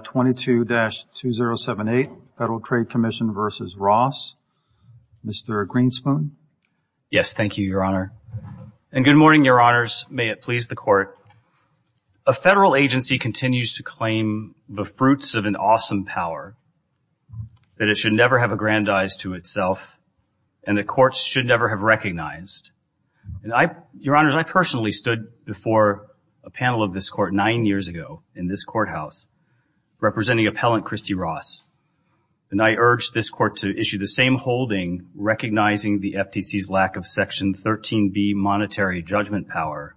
22-2078 Federal Trade Commission v. Ross. Mr. Greenspoon. Yes, thank you, Your Honor. And good morning, Your Honors. May it please the Court. A federal agency continues to claim the fruits of an awesome power, that it should never have aggrandized to itself, and that courts should never have recognized. And I, Your Honors, I personally stood before a panel of this Court nine years ago, in this courthouse, representing appellant Kristy Ross, and I urged this Court to issue the same holding, recognizing the FTC's lack of Section 13b monetary judgment power,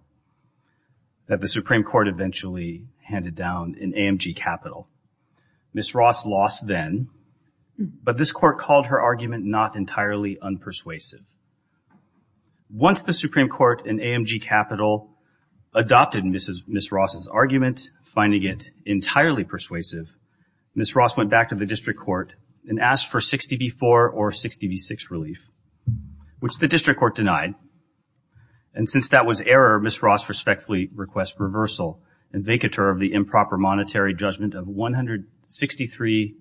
that the Supreme Court eventually handed down in AMG Capital. Ms. Ross lost then, but this Court called her argument not entirely unpersuasive. Once the Supreme Court in AMG Capital adopted Ms. Ross' argument, finding it entirely persuasive, Ms. Ross went back to the District Court and asked for 60b-4 or 60b-6 relief, which the District Court denied. And since that was error, Ms. Ross respectfully requests reversal and vacatur of the improper monetary judgment of $163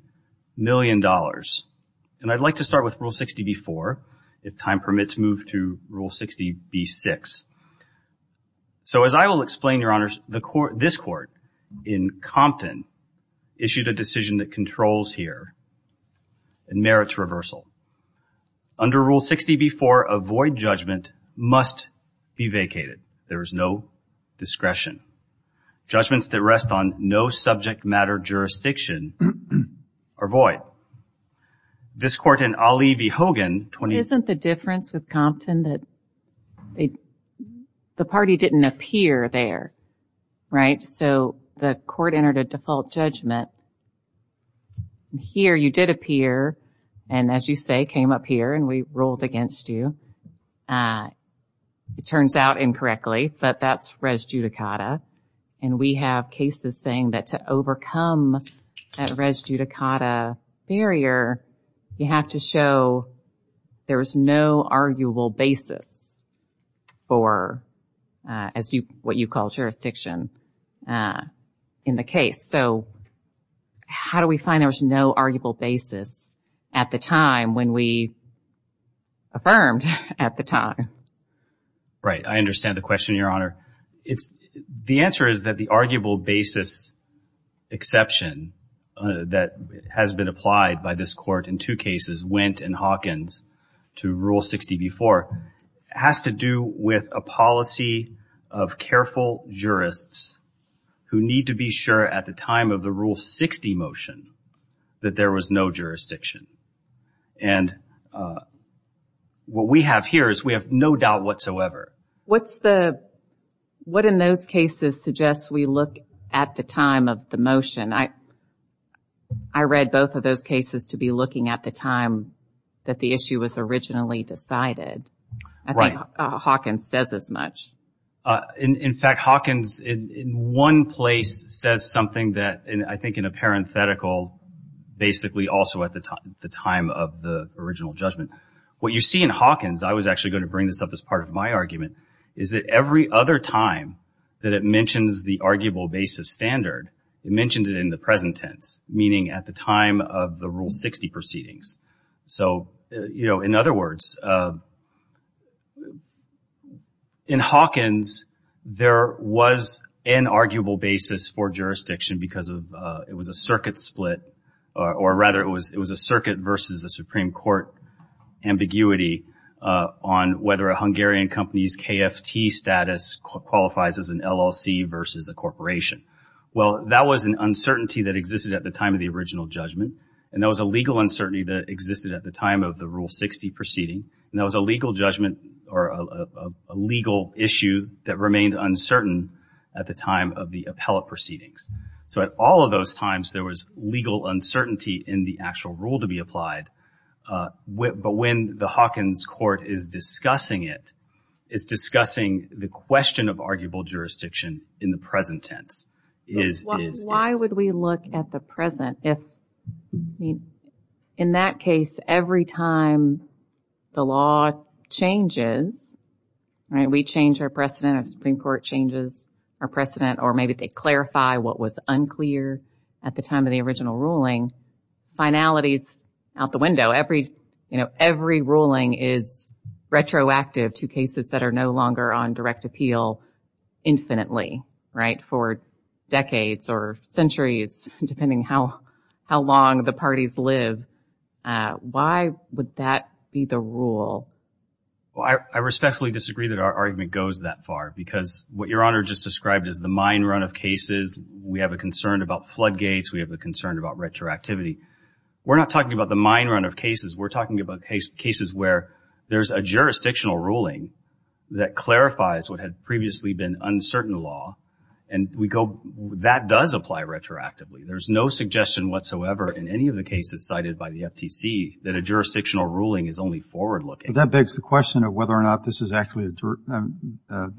million. And I'd like to start with Rule 60b-4, if time permits, move to Rule 60b-6. So as I will explain, Your Honors, this Court in Compton issued a decision that controls here and merits reversal. Under Rule 60b-4, a void judgment must be vacated. There is no discretion. Judgments that rest on no subject matter jurisdiction are void. This Court in Ali v. Hogan... Isn't the difference with Compton that the party didn't appear there, right? So the Court entered a default judgment. Here you did appear, and as you say, came up here and we ruled against you. It turns out incorrectly, but that's res judicata. And we have cases saying that to overcome that res judicata barrier, you have to show there is no arguable basis for what you call jurisdiction in the case. So how do we find there was no arguable basis at the time when we affirmed at the time? Right. I understand the question, Your Honor. The answer is that the arguable basis exception that has been applied by this Court in two cases, Wendt and Hawkins, to Rule 60b-4, has to do with a policy of careful jurists who need to be sure at the time of the Rule 60 motion that there was no jurisdiction. And what we have here is we have no doubt whatsoever. What in those cases suggests we look at the time of the motion? I read both of those cases to be looking at the time that the issue was originally decided. I think Hawkins says as much. In fact, Hawkins in one place says something that I think in a parenthetical, basically also at the time of the original judgment. What you see in Hawkins, I was actually going to bring this up as part of my argument, is that every other time that it mentions the arguable basis standard, it mentions it in the present tense, meaning at the time of the Rule 60 proceedings. So, you know, in other words, in Hawkins, there was an arguable basis for jurisdiction because it was a circuit split, or rather it was a circuit versus a Supreme Court ambiguity on whether a Hungarian company's KFT status qualifies as an LLC versus a corporation. Well, that was an uncertainty that existed at the time of the original judgment, and that was a legal uncertainty that existed at the time of the Rule 60 proceeding, and that was a legal judgment or a legal issue that remained uncertain at the time of the appellate proceedings. So at all of those times, there was legal uncertainty in the actual rule to be applied. But when the Hawkins court is discussing it, Why would we look at the present? In that case, every time the law changes, we change our precedent, or the Supreme Court changes our precedent, or maybe they clarify what was unclear at the time of the original ruling, finality is out the window. Every ruling is retroactive to cases that are no longer on direct appeal infinitely, for decades or centuries, depending how long the parties live. Why would that be the rule? Well, I respectfully disagree that our argument goes that far because what Your Honor just described is the mine run of cases. We have a concern about floodgates. We have a concern about retroactivity. We're not talking about the mine run of cases. We're talking about cases where there's a jurisdictional ruling that clarifies what had previously been uncertain law, and that does apply retroactively. There's no suggestion whatsoever in any of the cases cited by the FTC that a jurisdictional ruling is only forward-looking. But that begs the question of whether or not the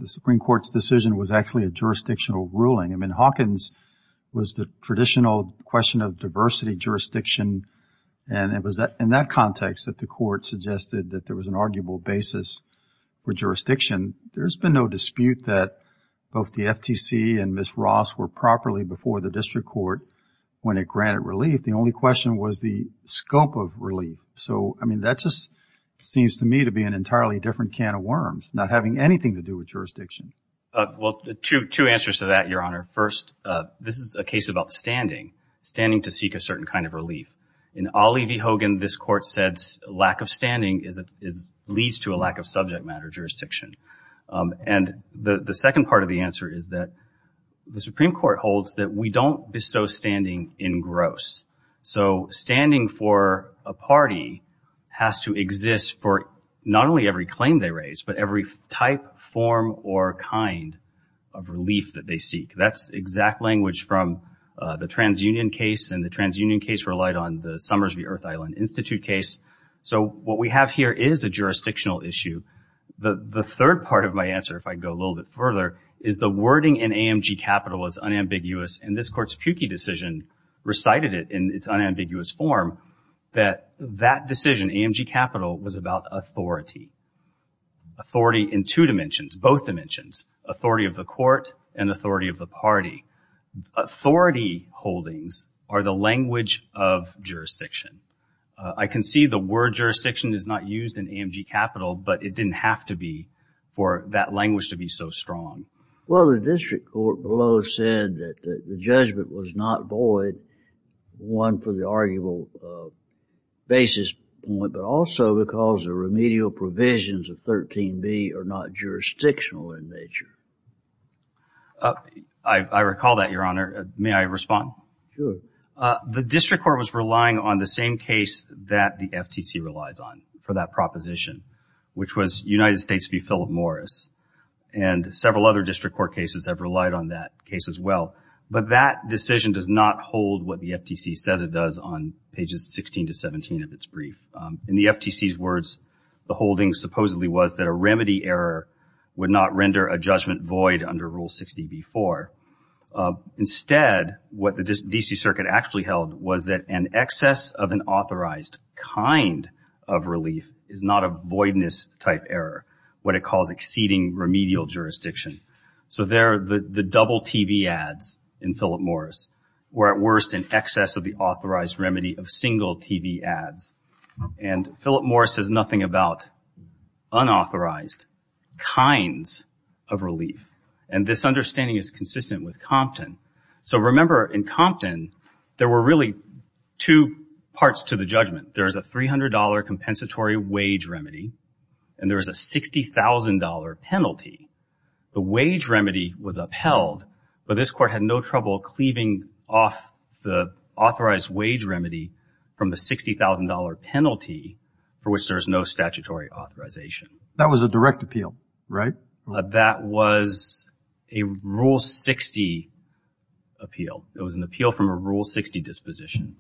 Supreme Court's decision was actually a jurisdictional ruling. I mean, Hawkins was the traditional question of diversity, jurisdiction, and it was in that context that the Court suggested that there was an arguable basis for jurisdiction. There's been no dispute that both the FTC and Ms. Ross were properly before the District Court when it granted relief. The only question was the scope of relief. So, I mean, that just seems to me to be an entirely different can of worms, not having anything to do with jurisdiction. Well, two answers to that, Your Honor. First, this is a case about standing, standing to seek a certain kind of relief. In Ollie v. Hogan, this Court said lack of standing leads to a lack of subject matter, jurisdiction. And the second part of the answer is that the Supreme Court holds that we don't bestow standing in gross. So standing for a party has to exist for not only every claim they raise, but every type, form, or kind of relief that they seek. That's exact language from the TransUnion case, and the TransUnion case relied on the Summers v. Earth Island Institute case. So what we have here is a jurisdictional issue. The third part of my answer, if I go a little bit further, is the wording in AMG Capital is unambiguous, and this Court's Pukey decision recited it in its unambiguous form that that decision, AMG Capital, was about authority, authority in two dimensions, both dimensions, authority of the court and authority of the party. Authority holdings are the language of jurisdiction. I can see the word jurisdiction is not used in AMG Capital, but it didn't have to be for that language to be so strong. Well, the district court below said that the judgment was not void, one, for the arguable basis, but also because the remedial provisions of 13b are not jurisdictional in nature. I recall that, Your Honor. May I respond? Sure. The district court was relying on the same case that the FTC relies on for that proposition, which was United States v. Philip Morris, and several other district court cases have relied on that case as well, but that decision does not hold what the FTC says it does on pages 16 to 17 of its brief. In the FTC's words, the holding supposedly was that a remedy error would not render a judgment void under Rule 60b-4. Instead, what the D.C. Circuit actually held was that an excess of an authorized kind of relief is not a voidness-type error, what it calls exceeding remedial jurisdiction. So there, the double TV ads in Philip Morris were at worst an excess of the authorized remedy of single TV ads. And Philip Morris says nothing about unauthorized kinds of relief. And this understanding is consistent with Compton. So remember, in Compton, there were really two parts to the judgment. There is a $300 compensatory wage remedy, and there is a $60,000 penalty. The wage remedy was upheld, but this court had no trouble cleaving off the authorized wage remedy from the $60,000 penalty for which there is no statutory authorization. That was a direct appeal, right? That was a Rule 60 appeal. It was an appeal from a Rule 60 disposition.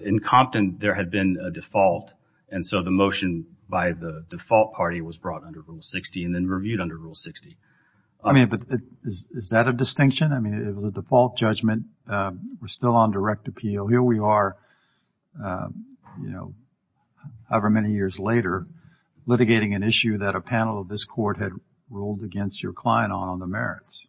In Compton, there had been a default, and so the motion by the default party was brought under Rule 60 and then reviewed under Rule 60. I mean, but is that a distinction? I mean, it was a default judgment. We're still on direct appeal. Here we are, you know, however many years later, litigating an issue that a panel of this court had ruled against your client on on the merits.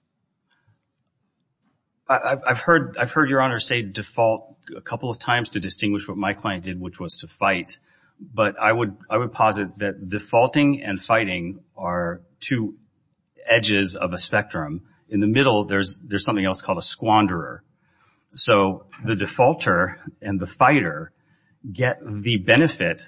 I've heard your Honor say default a couple of times to distinguish what my client did, which was to fight, but I would posit that defaulting and fighting are two edges of a spectrum. In the middle, there's something else called a squanderer. So the defaulter and the fighter get the benefit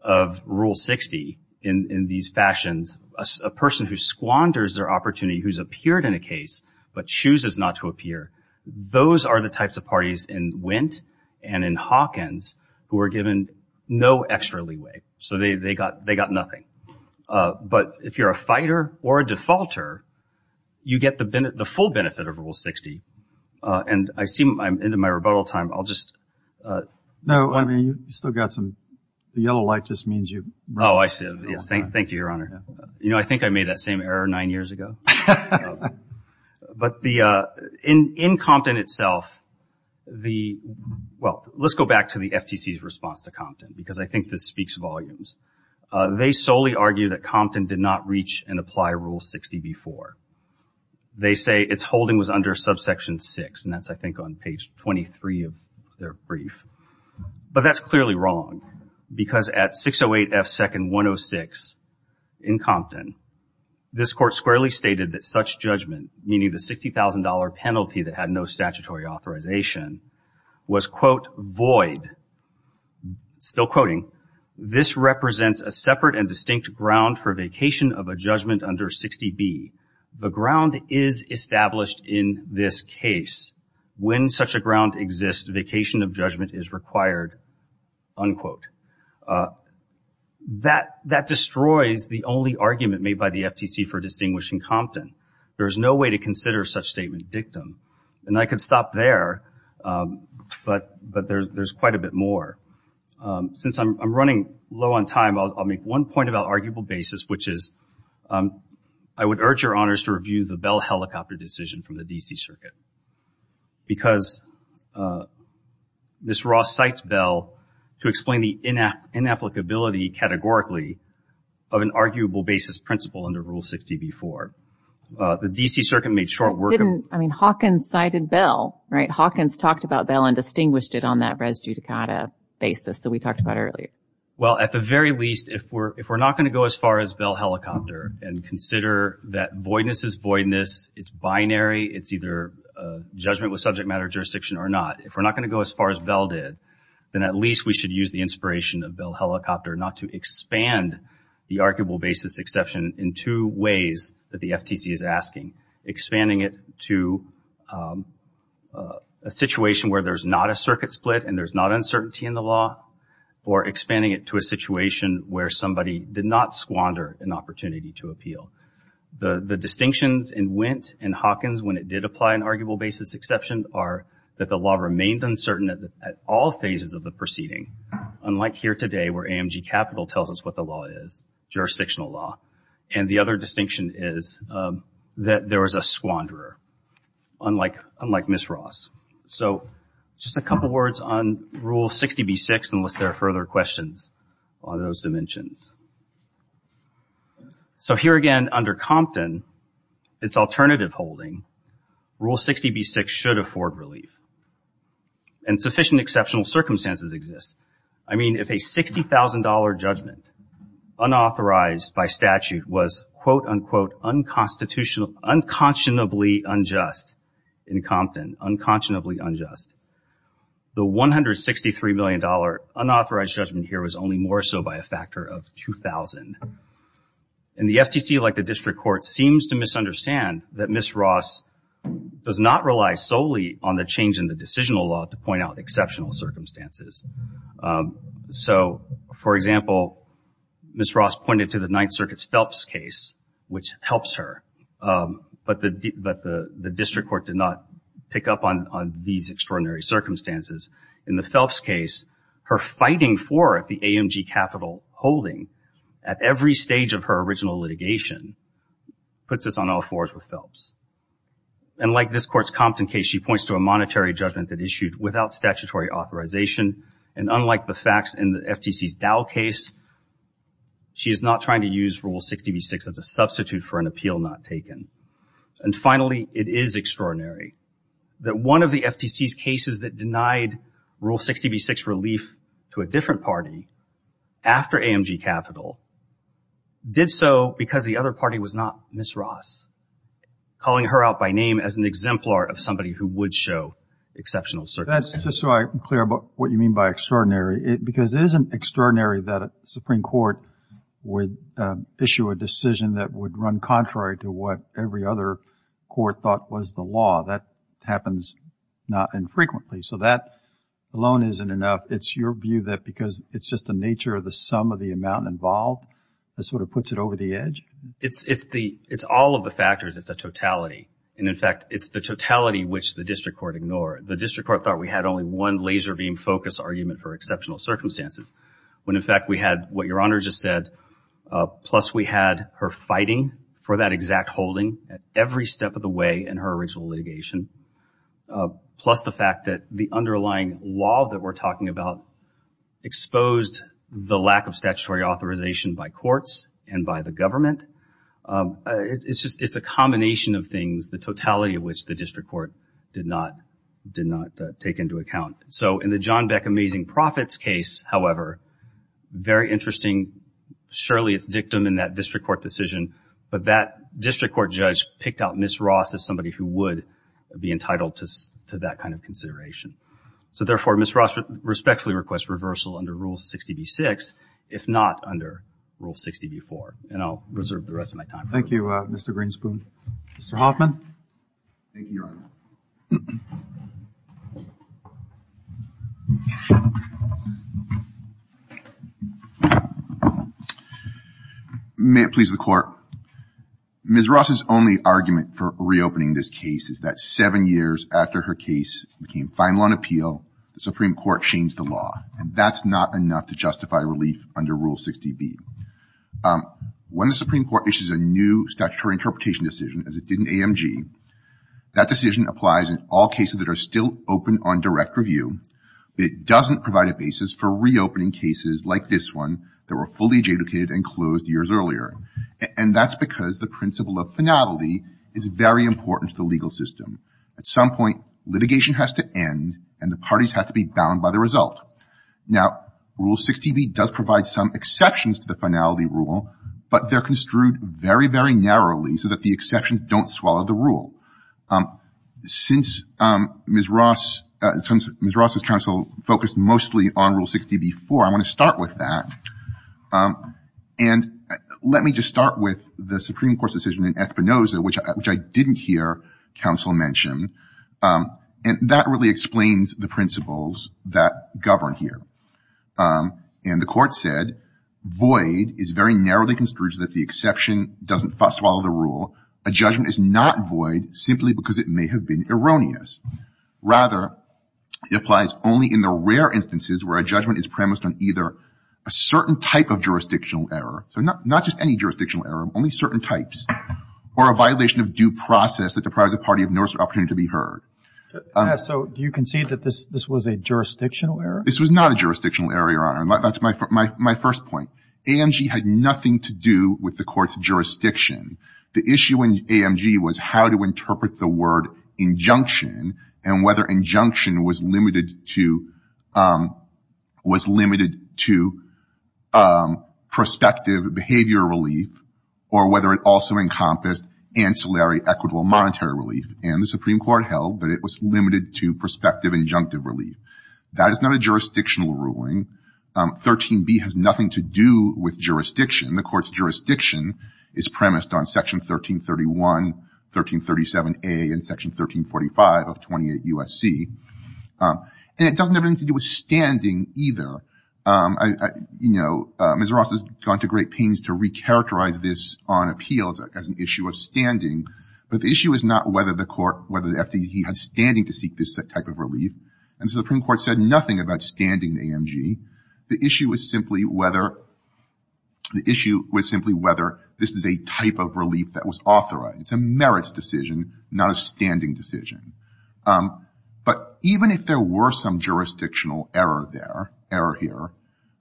of Rule 60 in these fashions. A person who squanders their opportunity, who's appeared in a case but chooses not to appear, those are the types of parties in Wint and in Hawkins who are given no extra leeway. So they got nothing. But if you're a fighter or a defaulter, you get the full benefit of Rule 60. And I see I'm into my rebuttal time. I'll just... No, I mean, you still got some... The yellow light just means you... Oh, I see. Thank you, Your Honor. You know, I think I made that same error nine years ago. But in Compton itself, the... Well, let's go back to the FTC's response to Compton because I think this speaks volumes. They solely argue that Compton did not reach and apply Rule 60 before. They say its holding was under subsection 6, and that's, I think, on page 23 of their brief. But that's clearly wrong because at 608 F. 2nd. 106 in Compton, this court squarely stated that such judgment, meaning the $60,000 penalty that had no statutory authorization, was, quote, void. Still quoting. This represents a separate and distinct ground for vacation of a judgment under 60B. The ground is established in this case. When such a ground exists, vacation of judgment is required, unquote. That destroys the only argument made by the FTC for distinguishing Compton. There is no way to consider such statement dictum. And I could stop there, but there's quite a bit more. Since I'm running low on time, I'll make one point about arguable basis, which is I would urge Your Honors to review the Bell helicopter decision from the D.C. Circuit because Ms. Ross cites Bell to explain the inapplicability categorically of an arguable basis principle under Rule 60B. 4. The D.C. Circuit made short work of... I mean, Hawkins cited Bell, right? Hawkins talked about Bell and distinguished it on that res judicata basis that we talked about earlier. Well, at the very least, if we're not going to go as far as Bell helicopter and consider that voidness is voidness, it's binary, it's either judgment with subject matter, jurisdiction, or not, if we're not going to go as far as Bell did, then at least we should use the inspiration of Bell helicopter not to expand the arguable basis exception in two ways that the FTC is asking. Expanding it to a situation where there's not a circuit split and there's not uncertainty in the law, or expanding it to a situation where somebody did not squander an opportunity to appeal. The distinctions in Wendt and Hawkins when it did apply an arguable basis exception are that the law remained uncertain at all phases of the proceeding, unlike here today where AMG Capital tells us what the law is, jurisdictional law. And the other distinction is that there was a squanderer, unlike Ms. Ross. So just a couple words on Rule 60B.6 unless there are further questions on those dimensions. So here again, under Compton, it's alternative holding. Rule 60B.6 should afford relief. And sufficient exceptional circumstances exist. I mean, if a $60,000 judgment unauthorized by statute was, quote, unquote, unconscionably unjust in Compton, unconscionably unjust, the $163 million unauthorized judgment here was only more so by a factor of 2,000. And the FTC, like the district court, seems to misunderstand that Ms. Ross does not rely solely on the change in the decisional law to point out exceptional circumstances. So, for example, Ms. Ross pointed to the Ninth Circuit's Phelps case, which helps her, but the district court did not pick up on these extraordinary circumstances. In the Phelps case, her fighting for it, the AMG capital holding, at every stage of her original litigation, puts us on all fours with Phelps. And like this court's Compton case, she points to a monetary judgment that issued without statutory authorization, and unlike the facts in the FTC's Dow case, she is not trying to use Rule 60B.6 as a substitute for an appeal not taken. And finally, it is extraordinary that one of the FTC's cases that denied Rule 60B.6 relief to a different party, after AMG capital, did so because the other party was not Ms. Ross, calling her out by name as an exemplar of somebody who would show exceptional circumstances. That's just so I'm clear about what you mean by extraordinary. Because it isn't extraordinary that a Supreme Court would issue a decision that would run contrary to what every other court thought was the law. That happens not infrequently. So that alone isn't enough. It's your view that because it's just the nature of the sum of the amount involved that sort of puts it over the edge? It's all of the factors. It's the totality. And in fact, it's the totality which the district court ignored. The district court thought we had only one laser-beam focus argument for exceptional circumstances, when in fact we had what Your Honor just said, plus we had her fighting for that exact holding at every step of the way in her original litigation, plus the fact that the underlying law that we're talking about exposed the lack of statutory authorization by courts and by the government. It's a combination of things, the totality of which the district court did not take into account. So in the John Beck Amazing Profits case, however, very interesting, surely it's dictum in that district court decision, but that district court judge picked out Ms. Ross as somebody who would be entitled to that kind of consideration. So therefore, Ms. Ross respectfully requests reversal under Rule 60b-6, if not under Rule 60b-4. And I'll reserve the rest of my time for that. Thank you, Mr. Greenspoon. Mr. Hoffman? Thank you, Your Honor. May it please the Court. Ms. Ross's only argument for reopening this case is that seven years after her case became final on appeal, the Supreme Court changed the law, and that's not enough to justify relief under Rule 60b. When the Supreme Court issues a new statutory interpretation decision, and it's not enough to justify relief under Rule 60b. All cases that are still open on direct review, it doesn't provide a basis for reopening cases like this one that were fully adjudicated and closed years earlier. And that's because the principle of finality is very important to the legal system. At some point, litigation has to end, and the parties have to be bound by the result. Now, Rule 60b does provide some exceptions to the finality rule, but they're construed very, very narrowly so that the exceptions don't swallow the rule. Since Ms. Ross's counsel focused mostly on Rule 60b-4, I want to start with that. And let me just start with the Supreme Court's decision in Espinoza, which I didn't hear counsel mention. And that really explains the principles that govern here. And the Court said, void is very narrowly construed so that the exception doesn't swallow the rule. A judgment is not void simply because it may have been erroneous. Rather, it applies only in the rare instances where a judgment is premised on either a certain type of jurisdictional error, so not just any jurisdictional error, only certain types, or a violation of due process that deprives a party of notice or opportunity to be heard. So do you concede that this was a jurisdictional error? This was not a jurisdictional error, Your Honor. That's my first point. AMG had nothing to do with the Court's jurisdiction. The issue in AMG was how to interpret the word injunction and whether injunction was limited to prospective behavior relief or whether it also encompassed ancillary equitable monetary relief. And the Supreme Court held that it was limited to prospective injunctive relief. That is not a jurisdictional ruling. 13b has nothing to do with jurisdiction. The Court's jurisdiction is premised on Section 1331, 1337A, and Section 1345 of 28 U.S.C. And it doesn't have anything to do with standing either. You know, Ms. Ross has gone to great pains to recharacterize this on appeals as an issue of standing, but the issue is not whether the Court, whether the FDA had standing to seek this type of relief. And the Supreme Court said nothing about standing in AMG. The issue is simply whether this is a type of relief that was authorized. It's a merits decision, not a standing decision. But even if there were some jurisdictional error there, error here,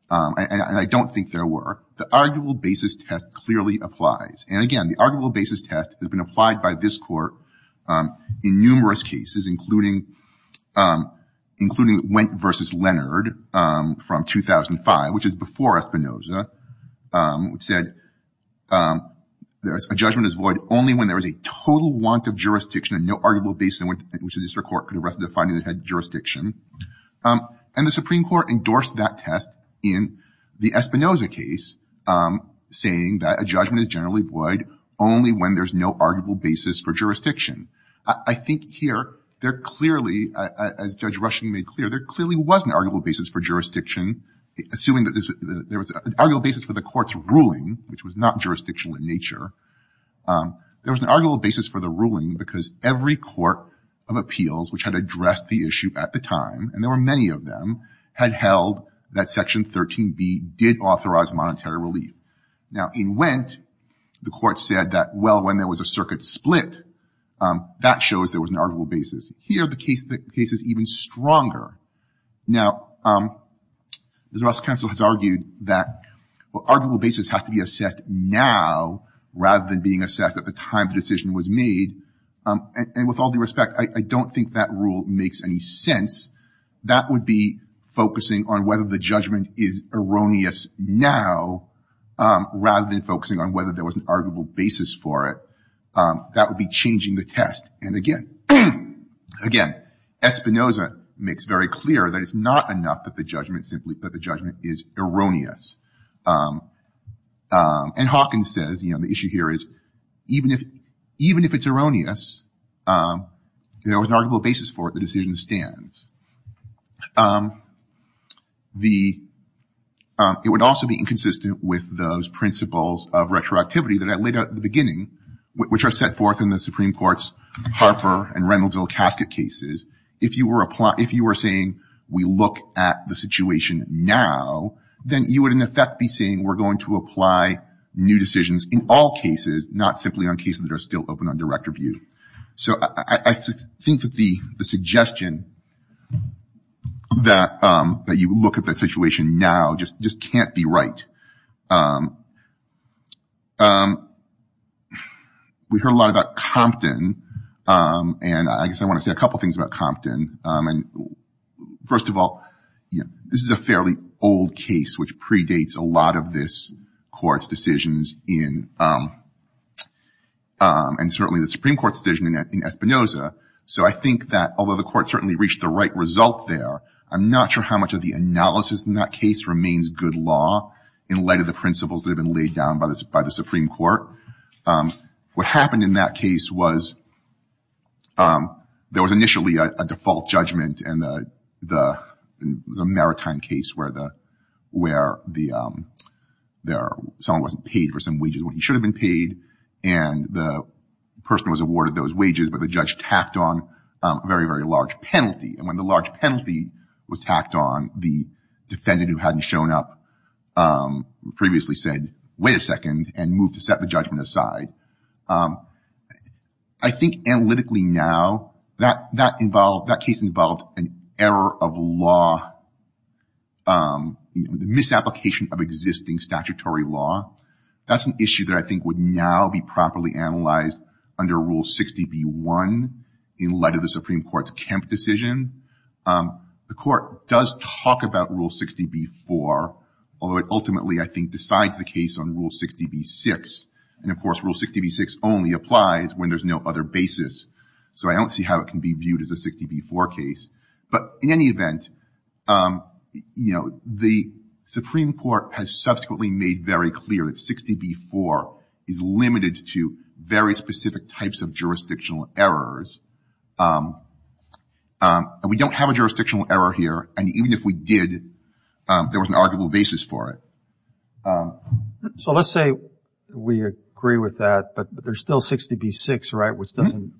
and I don't think there were, the arguable basis test clearly applies. And, again, the arguable basis test has been applied by this Court in numerous cases, including Wendt v. Leonard from 2005, which is before Espinoza, which said a judgment is void only when there is a total want of jurisdiction and no arguable basis in which the District Court could arrest the defendant that had jurisdiction. And the Supreme Court endorsed that test in the Espinoza case, saying that a judgment is generally void only when there's no arguable basis for jurisdiction. I think here there clearly, as Judge Rushing made clear, there clearly was an arguable basis for jurisdiction, assuming that there was an arguable basis for the Court's ruling, which was not jurisdictional in nature. There was an arguable basis for the ruling because every court of appeals, which had addressed the issue at the time, and there were many of them, had held that Section 13B did authorize monetary relief. Now, in Wendt, the Court said that, well, when there was a circuit split, that shows there was an arguable basis. Here the case is even stronger. Now, the Justice Council has argued that arguable basis has to be assessed now rather than being assessed at the time the decision was made. And with all due respect, I don't think that rule makes any sense. That would be focusing on whether the judgment is erroneous now rather than focusing on whether there was an arguable basis for it. That would be changing the test. And, again, Espinoza makes very clear that it's not enough that the judgment is erroneous. And Hawkins says, you know, the issue here is even if it's erroneous, there was an arguable basis for it, the decision stands. It would also be inconsistent with those principles of retroactivity that I laid out at the beginning, which are set forth in the Supreme Court's Harper and Reynolds-Zill Casket cases. If you were saying we look at the situation now, then you would, in effect, be saying we're going to apply new decisions in all cases, not simply on cases that are still open on direct review. So I think that the suggestion that you look at the situation now just can't be right. We heard a lot about Compton, and I guess I want to say a couple things about Compton. First of all, this is a fairly old case, which predates a lot of this Court's decisions. And certainly the Supreme Court's decision in Espinoza. So I think that although the Court certainly reached the right result there, I'm not sure how much of the analysis in that case remains good law in light of the principles that have been laid down by the Supreme Court. What happened in that case was there was initially a default judgment in the Maritime case where someone wasn't paid for some wages when he should have been paid, and the person was awarded those wages, but the judge tacked on a very, very large penalty. And when the large penalty was tacked on, the defendant who hadn't shown up previously said, wait a second, and moved to set the judgment aside. I think analytically now that case involved an error of law, the misapplication of existing statutory law. That's an issue that I think would now be properly analyzed under Rule 60b-1 in light of the Supreme Court's Kemp decision. The Court does talk about Rule 60b-4, although it ultimately, I think, decides the case on Rule 60b-6. And, of course, Rule 60b-6 only applies when there's no other basis. So I don't see how it can be viewed as a 60b-4 case. But in any event, you know, the Supreme Court has subsequently made very clear that 60b-4 is limited to very specific types of jurisdictional errors. We don't have a jurisdictional error here, and even if we did, there was an arguable basis for it. So let's say we agree with that, but there's still 60b-6, right, which doesn't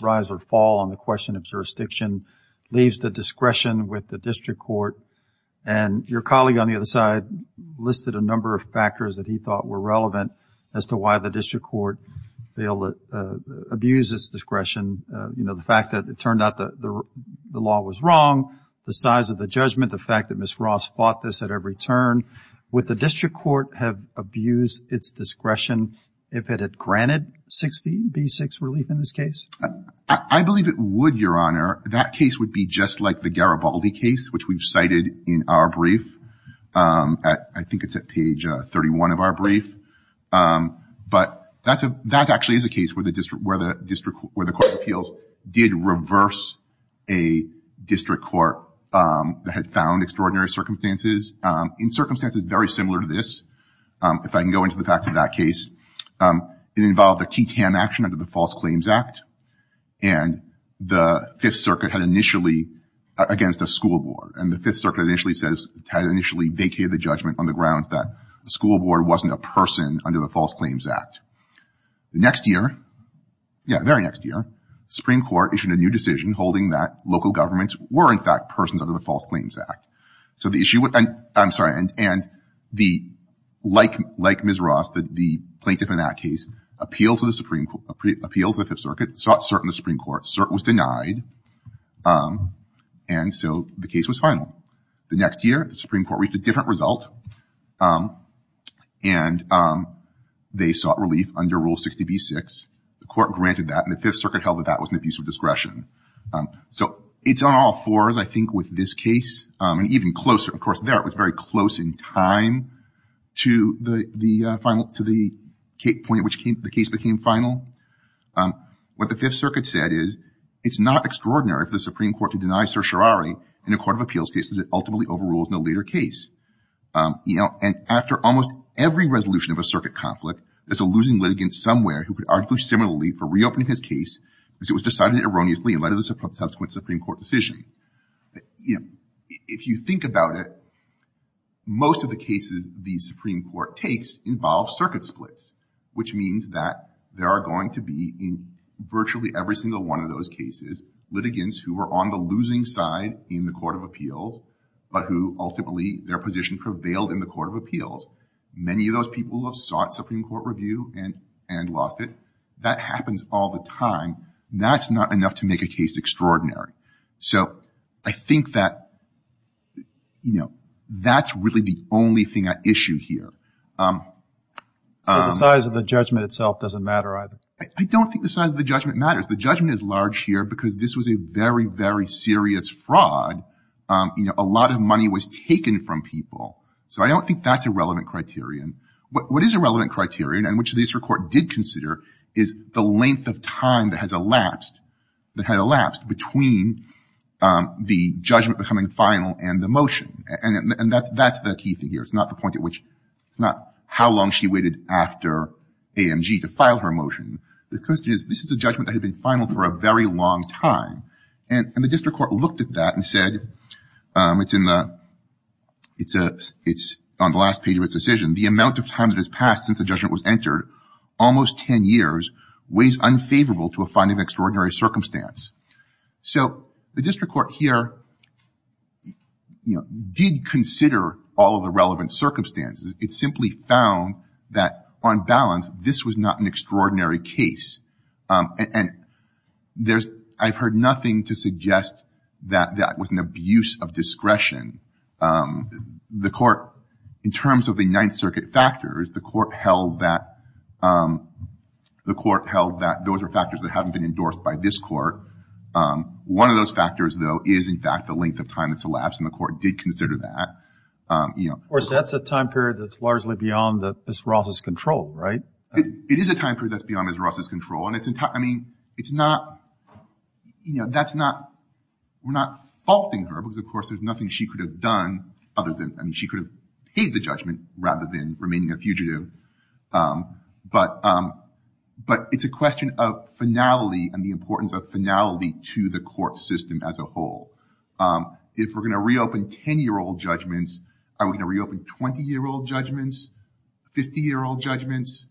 rise or fall on the question of jurisdiction, leaves the discretion with the district court. And your colleague on the other side listed a number of factors that he thought were relevant as to why the district court failed to abuse its discretion. You know, the fact that it turned out the law was wrong, the size of the judgment, the fact that Ms. Ross fought this at every turn. Would the district court have abused its discretion if it had granted 60b-6 relief in this case? I believe it would, Your Honor. That case would be just like the Garibaldi case, which we've cited in our brief. I think it's at page 31 of our brief. But that actually is a case where the court of appeals did reverse a district court that had found extraordinary circumstances. In circumstances very similar to this, if I can go into the facts of that case, it involved a key tam action under the False Claims Act, and the Fifth Circuit had initially against a school board. And the Fifth Circuit had initially vacated the judgment on the grounds that the school board wasn't a person under the False Claims Act. The next year, yeah, the very next year, the Supreme Court issued a new decision holding that local governments were in fact persons under the False Claims Act. So the issue, I'm sorry, and like Ms. Ross, the plaintiff in that case appealed to the Fifth Circuit, sought cert in the Supreme Court. Cert was denied, and so the case was final. The next year, the Supreme Court reached a different result, and they sought relief under Rule 60b-6. The court granted that, and the Fifth Circuit held that that was an abuse of discretion. So it's on all fours, I think, with this case, and even closer. Of course, there it was very close in time to the point at which the case became final. What the Fifth Circuit said is it's not extraordinary for the Supreme Court to deny certiorari in a court of appeals case that it ultimately overrules in a later case. And after almost every resolution of a circuit conflict, there's a losing litigant somewhere who could argue similarly for reopening his case because it was decided erroneously in light of the subsequent Supreme Court decision. If you think about it, most of the cases the Supreme Court takes involve circuit splits, which means that there are going to be in virtually every single one of those cases litigants who were on the losing side in the court of appeals but who ultimately their position prevailed in the court of appeals. Many of those people have sought Supreme Court review and lost it. That happens all the time. That's not enough to make a case extraordinary. So I think that, you know, that's really the only thing at issue here. I think the size of the judgment itself doesn't matter either. I don't think the size of the judgment matters. The judgment is large here because this was a very, very serious fraud. You know, a lot of money was taken from people. So I don't think that's a relevant criterion. What is a relevant criterion and which the Supreme Court did consider is the length of time that has elapsed between the judgment becoming final and the motion. And that's the key thing here. It's not the point at which it's not how long she waited after AMG to file her motion. The question is this is a judgment that had been final for a very long time. And the district court looked at that and said it's on the last page of its decision. The amount of time that has passed since the judgment was entered, almost ten years weighs unfavorable to a finding of extraordinary circumstance. So the district court here, you know, did consider all of the relevant circumstances. It simply found that on balance this was not an extraordinary case. And I've heard nothing to suggest that that was an abuse of discretion. The court, in terms of the Ninth Circuit factors, the court held that those are factors that haven't been endorsed by this court. One of those factors, though, is in fact the length of time that's elapsed, and the court did consider that. Of course, that's a time period that's largely beyond Ms. Ross's control, right? It is a time period that's beyond Ms. Ross's control. I mean, it's not, you know, that's not, we're not faulting her because, of course, there's nothing she could have done other than, I mean, she could have paid the judgment rather than remaining a fugitive. But it's a question of finality and the importance of finality to the court system as a whole. If we're going to reopen 10-year-old judgments, are we going to reopen 20-year-old judgments, 50-year-old judgments?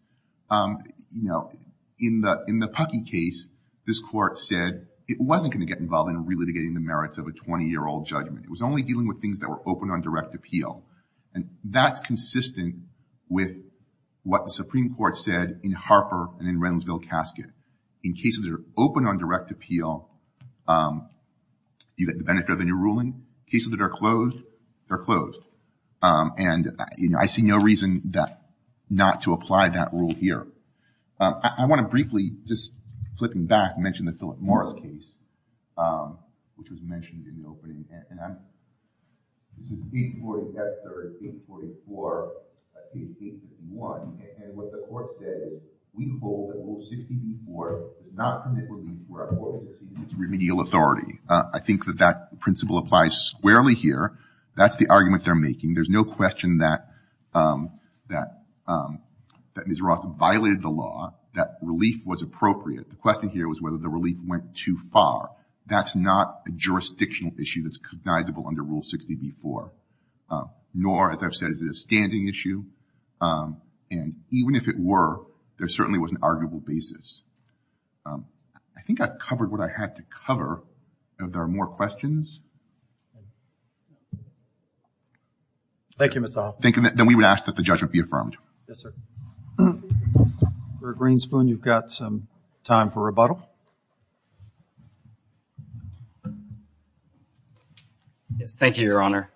You know, in the Puckey case, this court said it wasn't going to get involved in relitigating the merits of a 20-year-old judgment. It was only dealing with things that were open on direct appeal. And that's consistent with what the Supreme Court said in Harper and in Reynoldsville-Casket. In cases that are open on direct appeal, you get the benefit of a new ruling. Cases that are closed, they're closed. And, you know, I see no reason not to apply that rule here. I want to briefly, just flipping back, mention the Philip Morris case, which was mentioned in the opening. This is page 44 in Chapter 3, page 44, page 81. And what the court said is, we hold that Rule 60b-4 does not commit relief where a court has received its remedial authority. I think that that principle applies squarely here. That's the argument they're making. There's no question that Ms. Ross violated the law, that relief was appropriate. The question here was whether the relief went too far. That's not a jurisdictional issue that's cognizable under Rule 60b-4, nor, as I've said, is it a standing issue. And even if it were, there certainly was an arguable basis. I think I've covered what I had to cover. Are there more questions? Thank you, Mr. Hoffman. Then we would ask that the judgment be affirmed. Yes, sir. Mr. Greenspoon, you've got some time for rebuttal. Yes, thank you, Your Honor.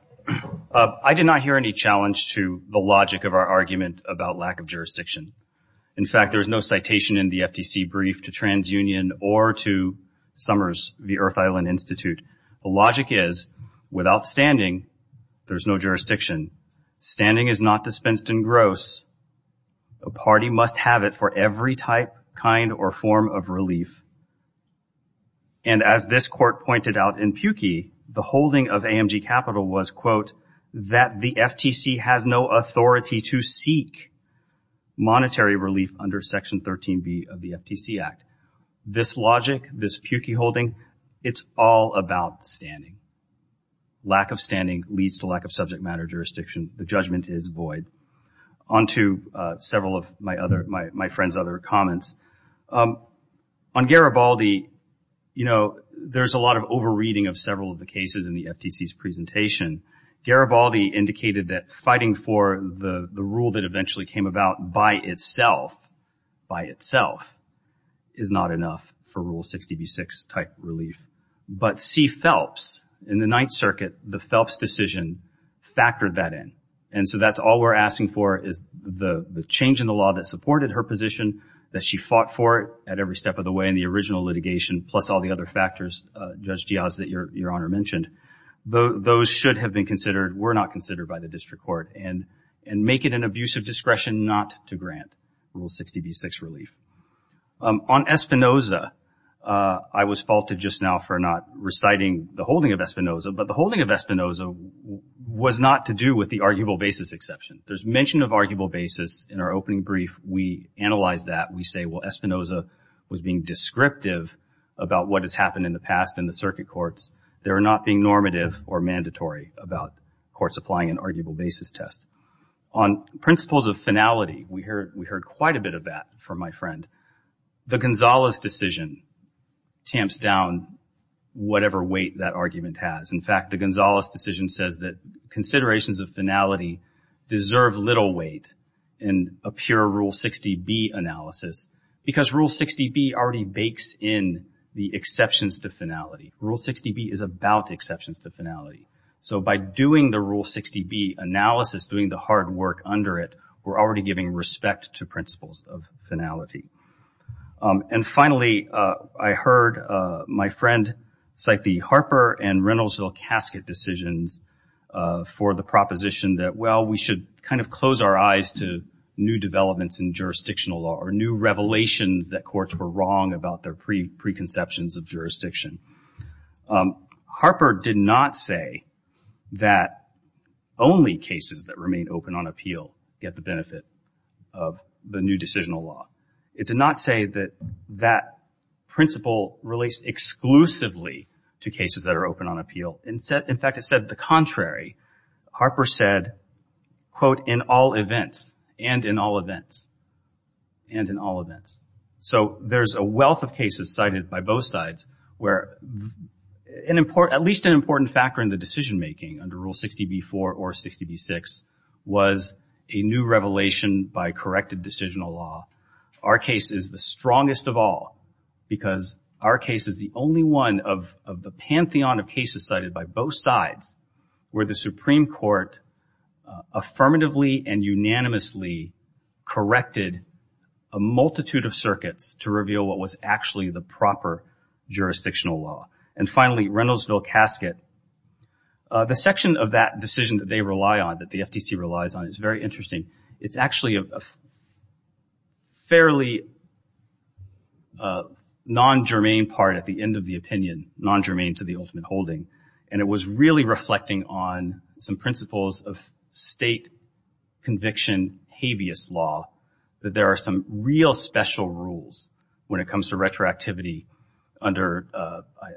I did not hear any challenge to the logic of our argument about lack of jurisdiction. In fact, there is no citation in the FTC brief to TransUnion or to Summers v. Earth Island Institute. The logic is, without standing, there's no jurisdiction. Standing is not dispensed in gross. A party must have it for every type, kind, or form of relief. And as this court pointed out in Pukey, the holding of AMG Capital was, quote, that the FTC has no authority to seek monetary relief under Section 13b of the FTC Act. This logic, this Pukey holding, it's all about standing. Lack of standing leads to lack of subject matter jurisdiction. The judgment is void. On to several of my friend's other comments. On Garibaldi, you know, there's a lot of over-reading of several of the cases in the FTC's presentation. Garibaldi indicated that fighting for the rule that eventually came about by itself, by itself, is not enough for Rule 60b-6 type relief. But C. Phelps, in the Ninth Circuit, the Phelps decision factored that in. And so that's all we're asking for is the change in the law that supported her position, that she fought for it at every step of the way in the original litigation, plus all the other factors, Judge Giaz, that Your Honor mentioned. Those should have been considered, were not considered by the district court, and make it an abuse of discretion not to grant Rule 60b-6 relief. On Espinoza, I was faulted just now for not reciting the holding of Espinoza, but the holding of Espinoza was not to do with the arguable basis exception. There's mention of arguable basis in our opening brief. We analyzed that. We say, well, Espinoza was being descriptive about what has happened in the past in the circuit courts. They were not being normative or mandatory about courts applying an arguable basis test. On principles of finality, we heard quite a bit of that from my friend. The Gonzalez decision tamps down whatever weight that argument has. In fact, the Gonzalez decision says that considerations of finality deserve little weight in a pure Rule 60b analysis because Rule 60b already bakes in the exceptions to finality. Rule 60b is about exceptions to finality. So by doing the Rule 60b analysis, doing the hard work under it, we're already giving respect to principles of finality. And finally, I heard my friend cite the Harper and Reynoldsville casket decisions for the proposition that, well, we should kind of close our eyes to new developments in jurisdictional law or new revelations that courts were wrong about their preconceptions of jurisdiction. Harper did not say that only cases that remain open on appeal get the benefit of the new decisional law. It did not say that that principle relates exclusively to cases that are open on appeal. In fact, it said the contrary. Harper said, quote, in all events, and in all events, and in all events. So there's a wealth of cases cited by both sides where at least an important factor in the decision-making under Rule 60b-4 or 60b-6 was a new revelation by corrected decisional law. Our case is the strongest of all because our case is the only one of the pantheon of cases cited by both sides where the Supreme Court affirmatively and unanimously corrected a multitude of circuits to reveal what was actually the proper jurisdictional law. And finally, Reynoldsville casket, the section of that decision that they rely on, that the FTC relies on, is very interesting. It's actually a fairly non-germane part at the end of the opinion, non-germane to the ultimate holding. And it was really reflecting on some principles of state conviction habeas law, that there are some real special rules when it comes to retroactivity under,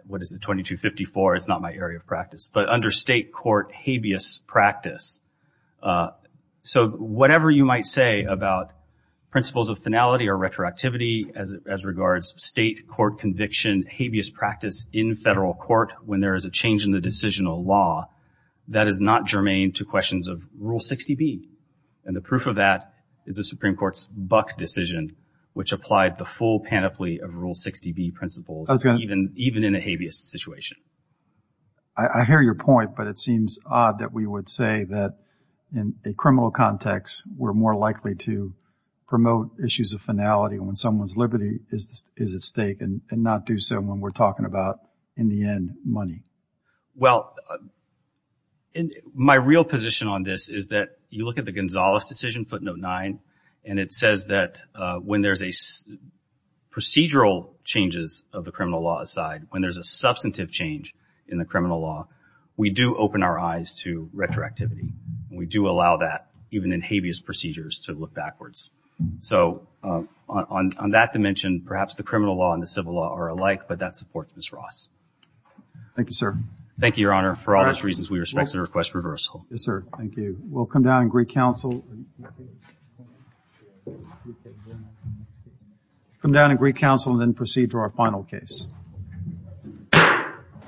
what is it, 2254? It's not my area of practice, but under state court habeas practice. So whatever you might say about principles of finality or retroactivity as regards state court conviction, in habeas practice in federal court when there is a change in the decisional law, that is not germane to questions of Rule 60b. And the proof of that is the Supreme Court's Buck decision, which applied the full panoply of Rule 60b principles even in a habeas situation. I hear your point, but it seems odd that we would say that in a criminal context, we're more likely to promote issues of finality when someone's liberty is at stake and not do so when we're talking about, in the end, money. Well, my real position on this is that you look at the Gonzales decision, footnote 9, and it says that when there's procedural changes of the criminal law aside, when there's a substantive change in the criminal law, we do open our eyes to retroactivity. And we do allow that even in habeas procedures to look backwards. So on that dimension, perhaps the criminal law and the civil law are alike, but that supports Ms. Ross. Thank you, sir. Thank you, Your Honor, for all those reasons, we respectfully request reversal. Yes, sir. Thank you. We'll come down and greet counsel. Come down and greet counsel and then proceed to our final case.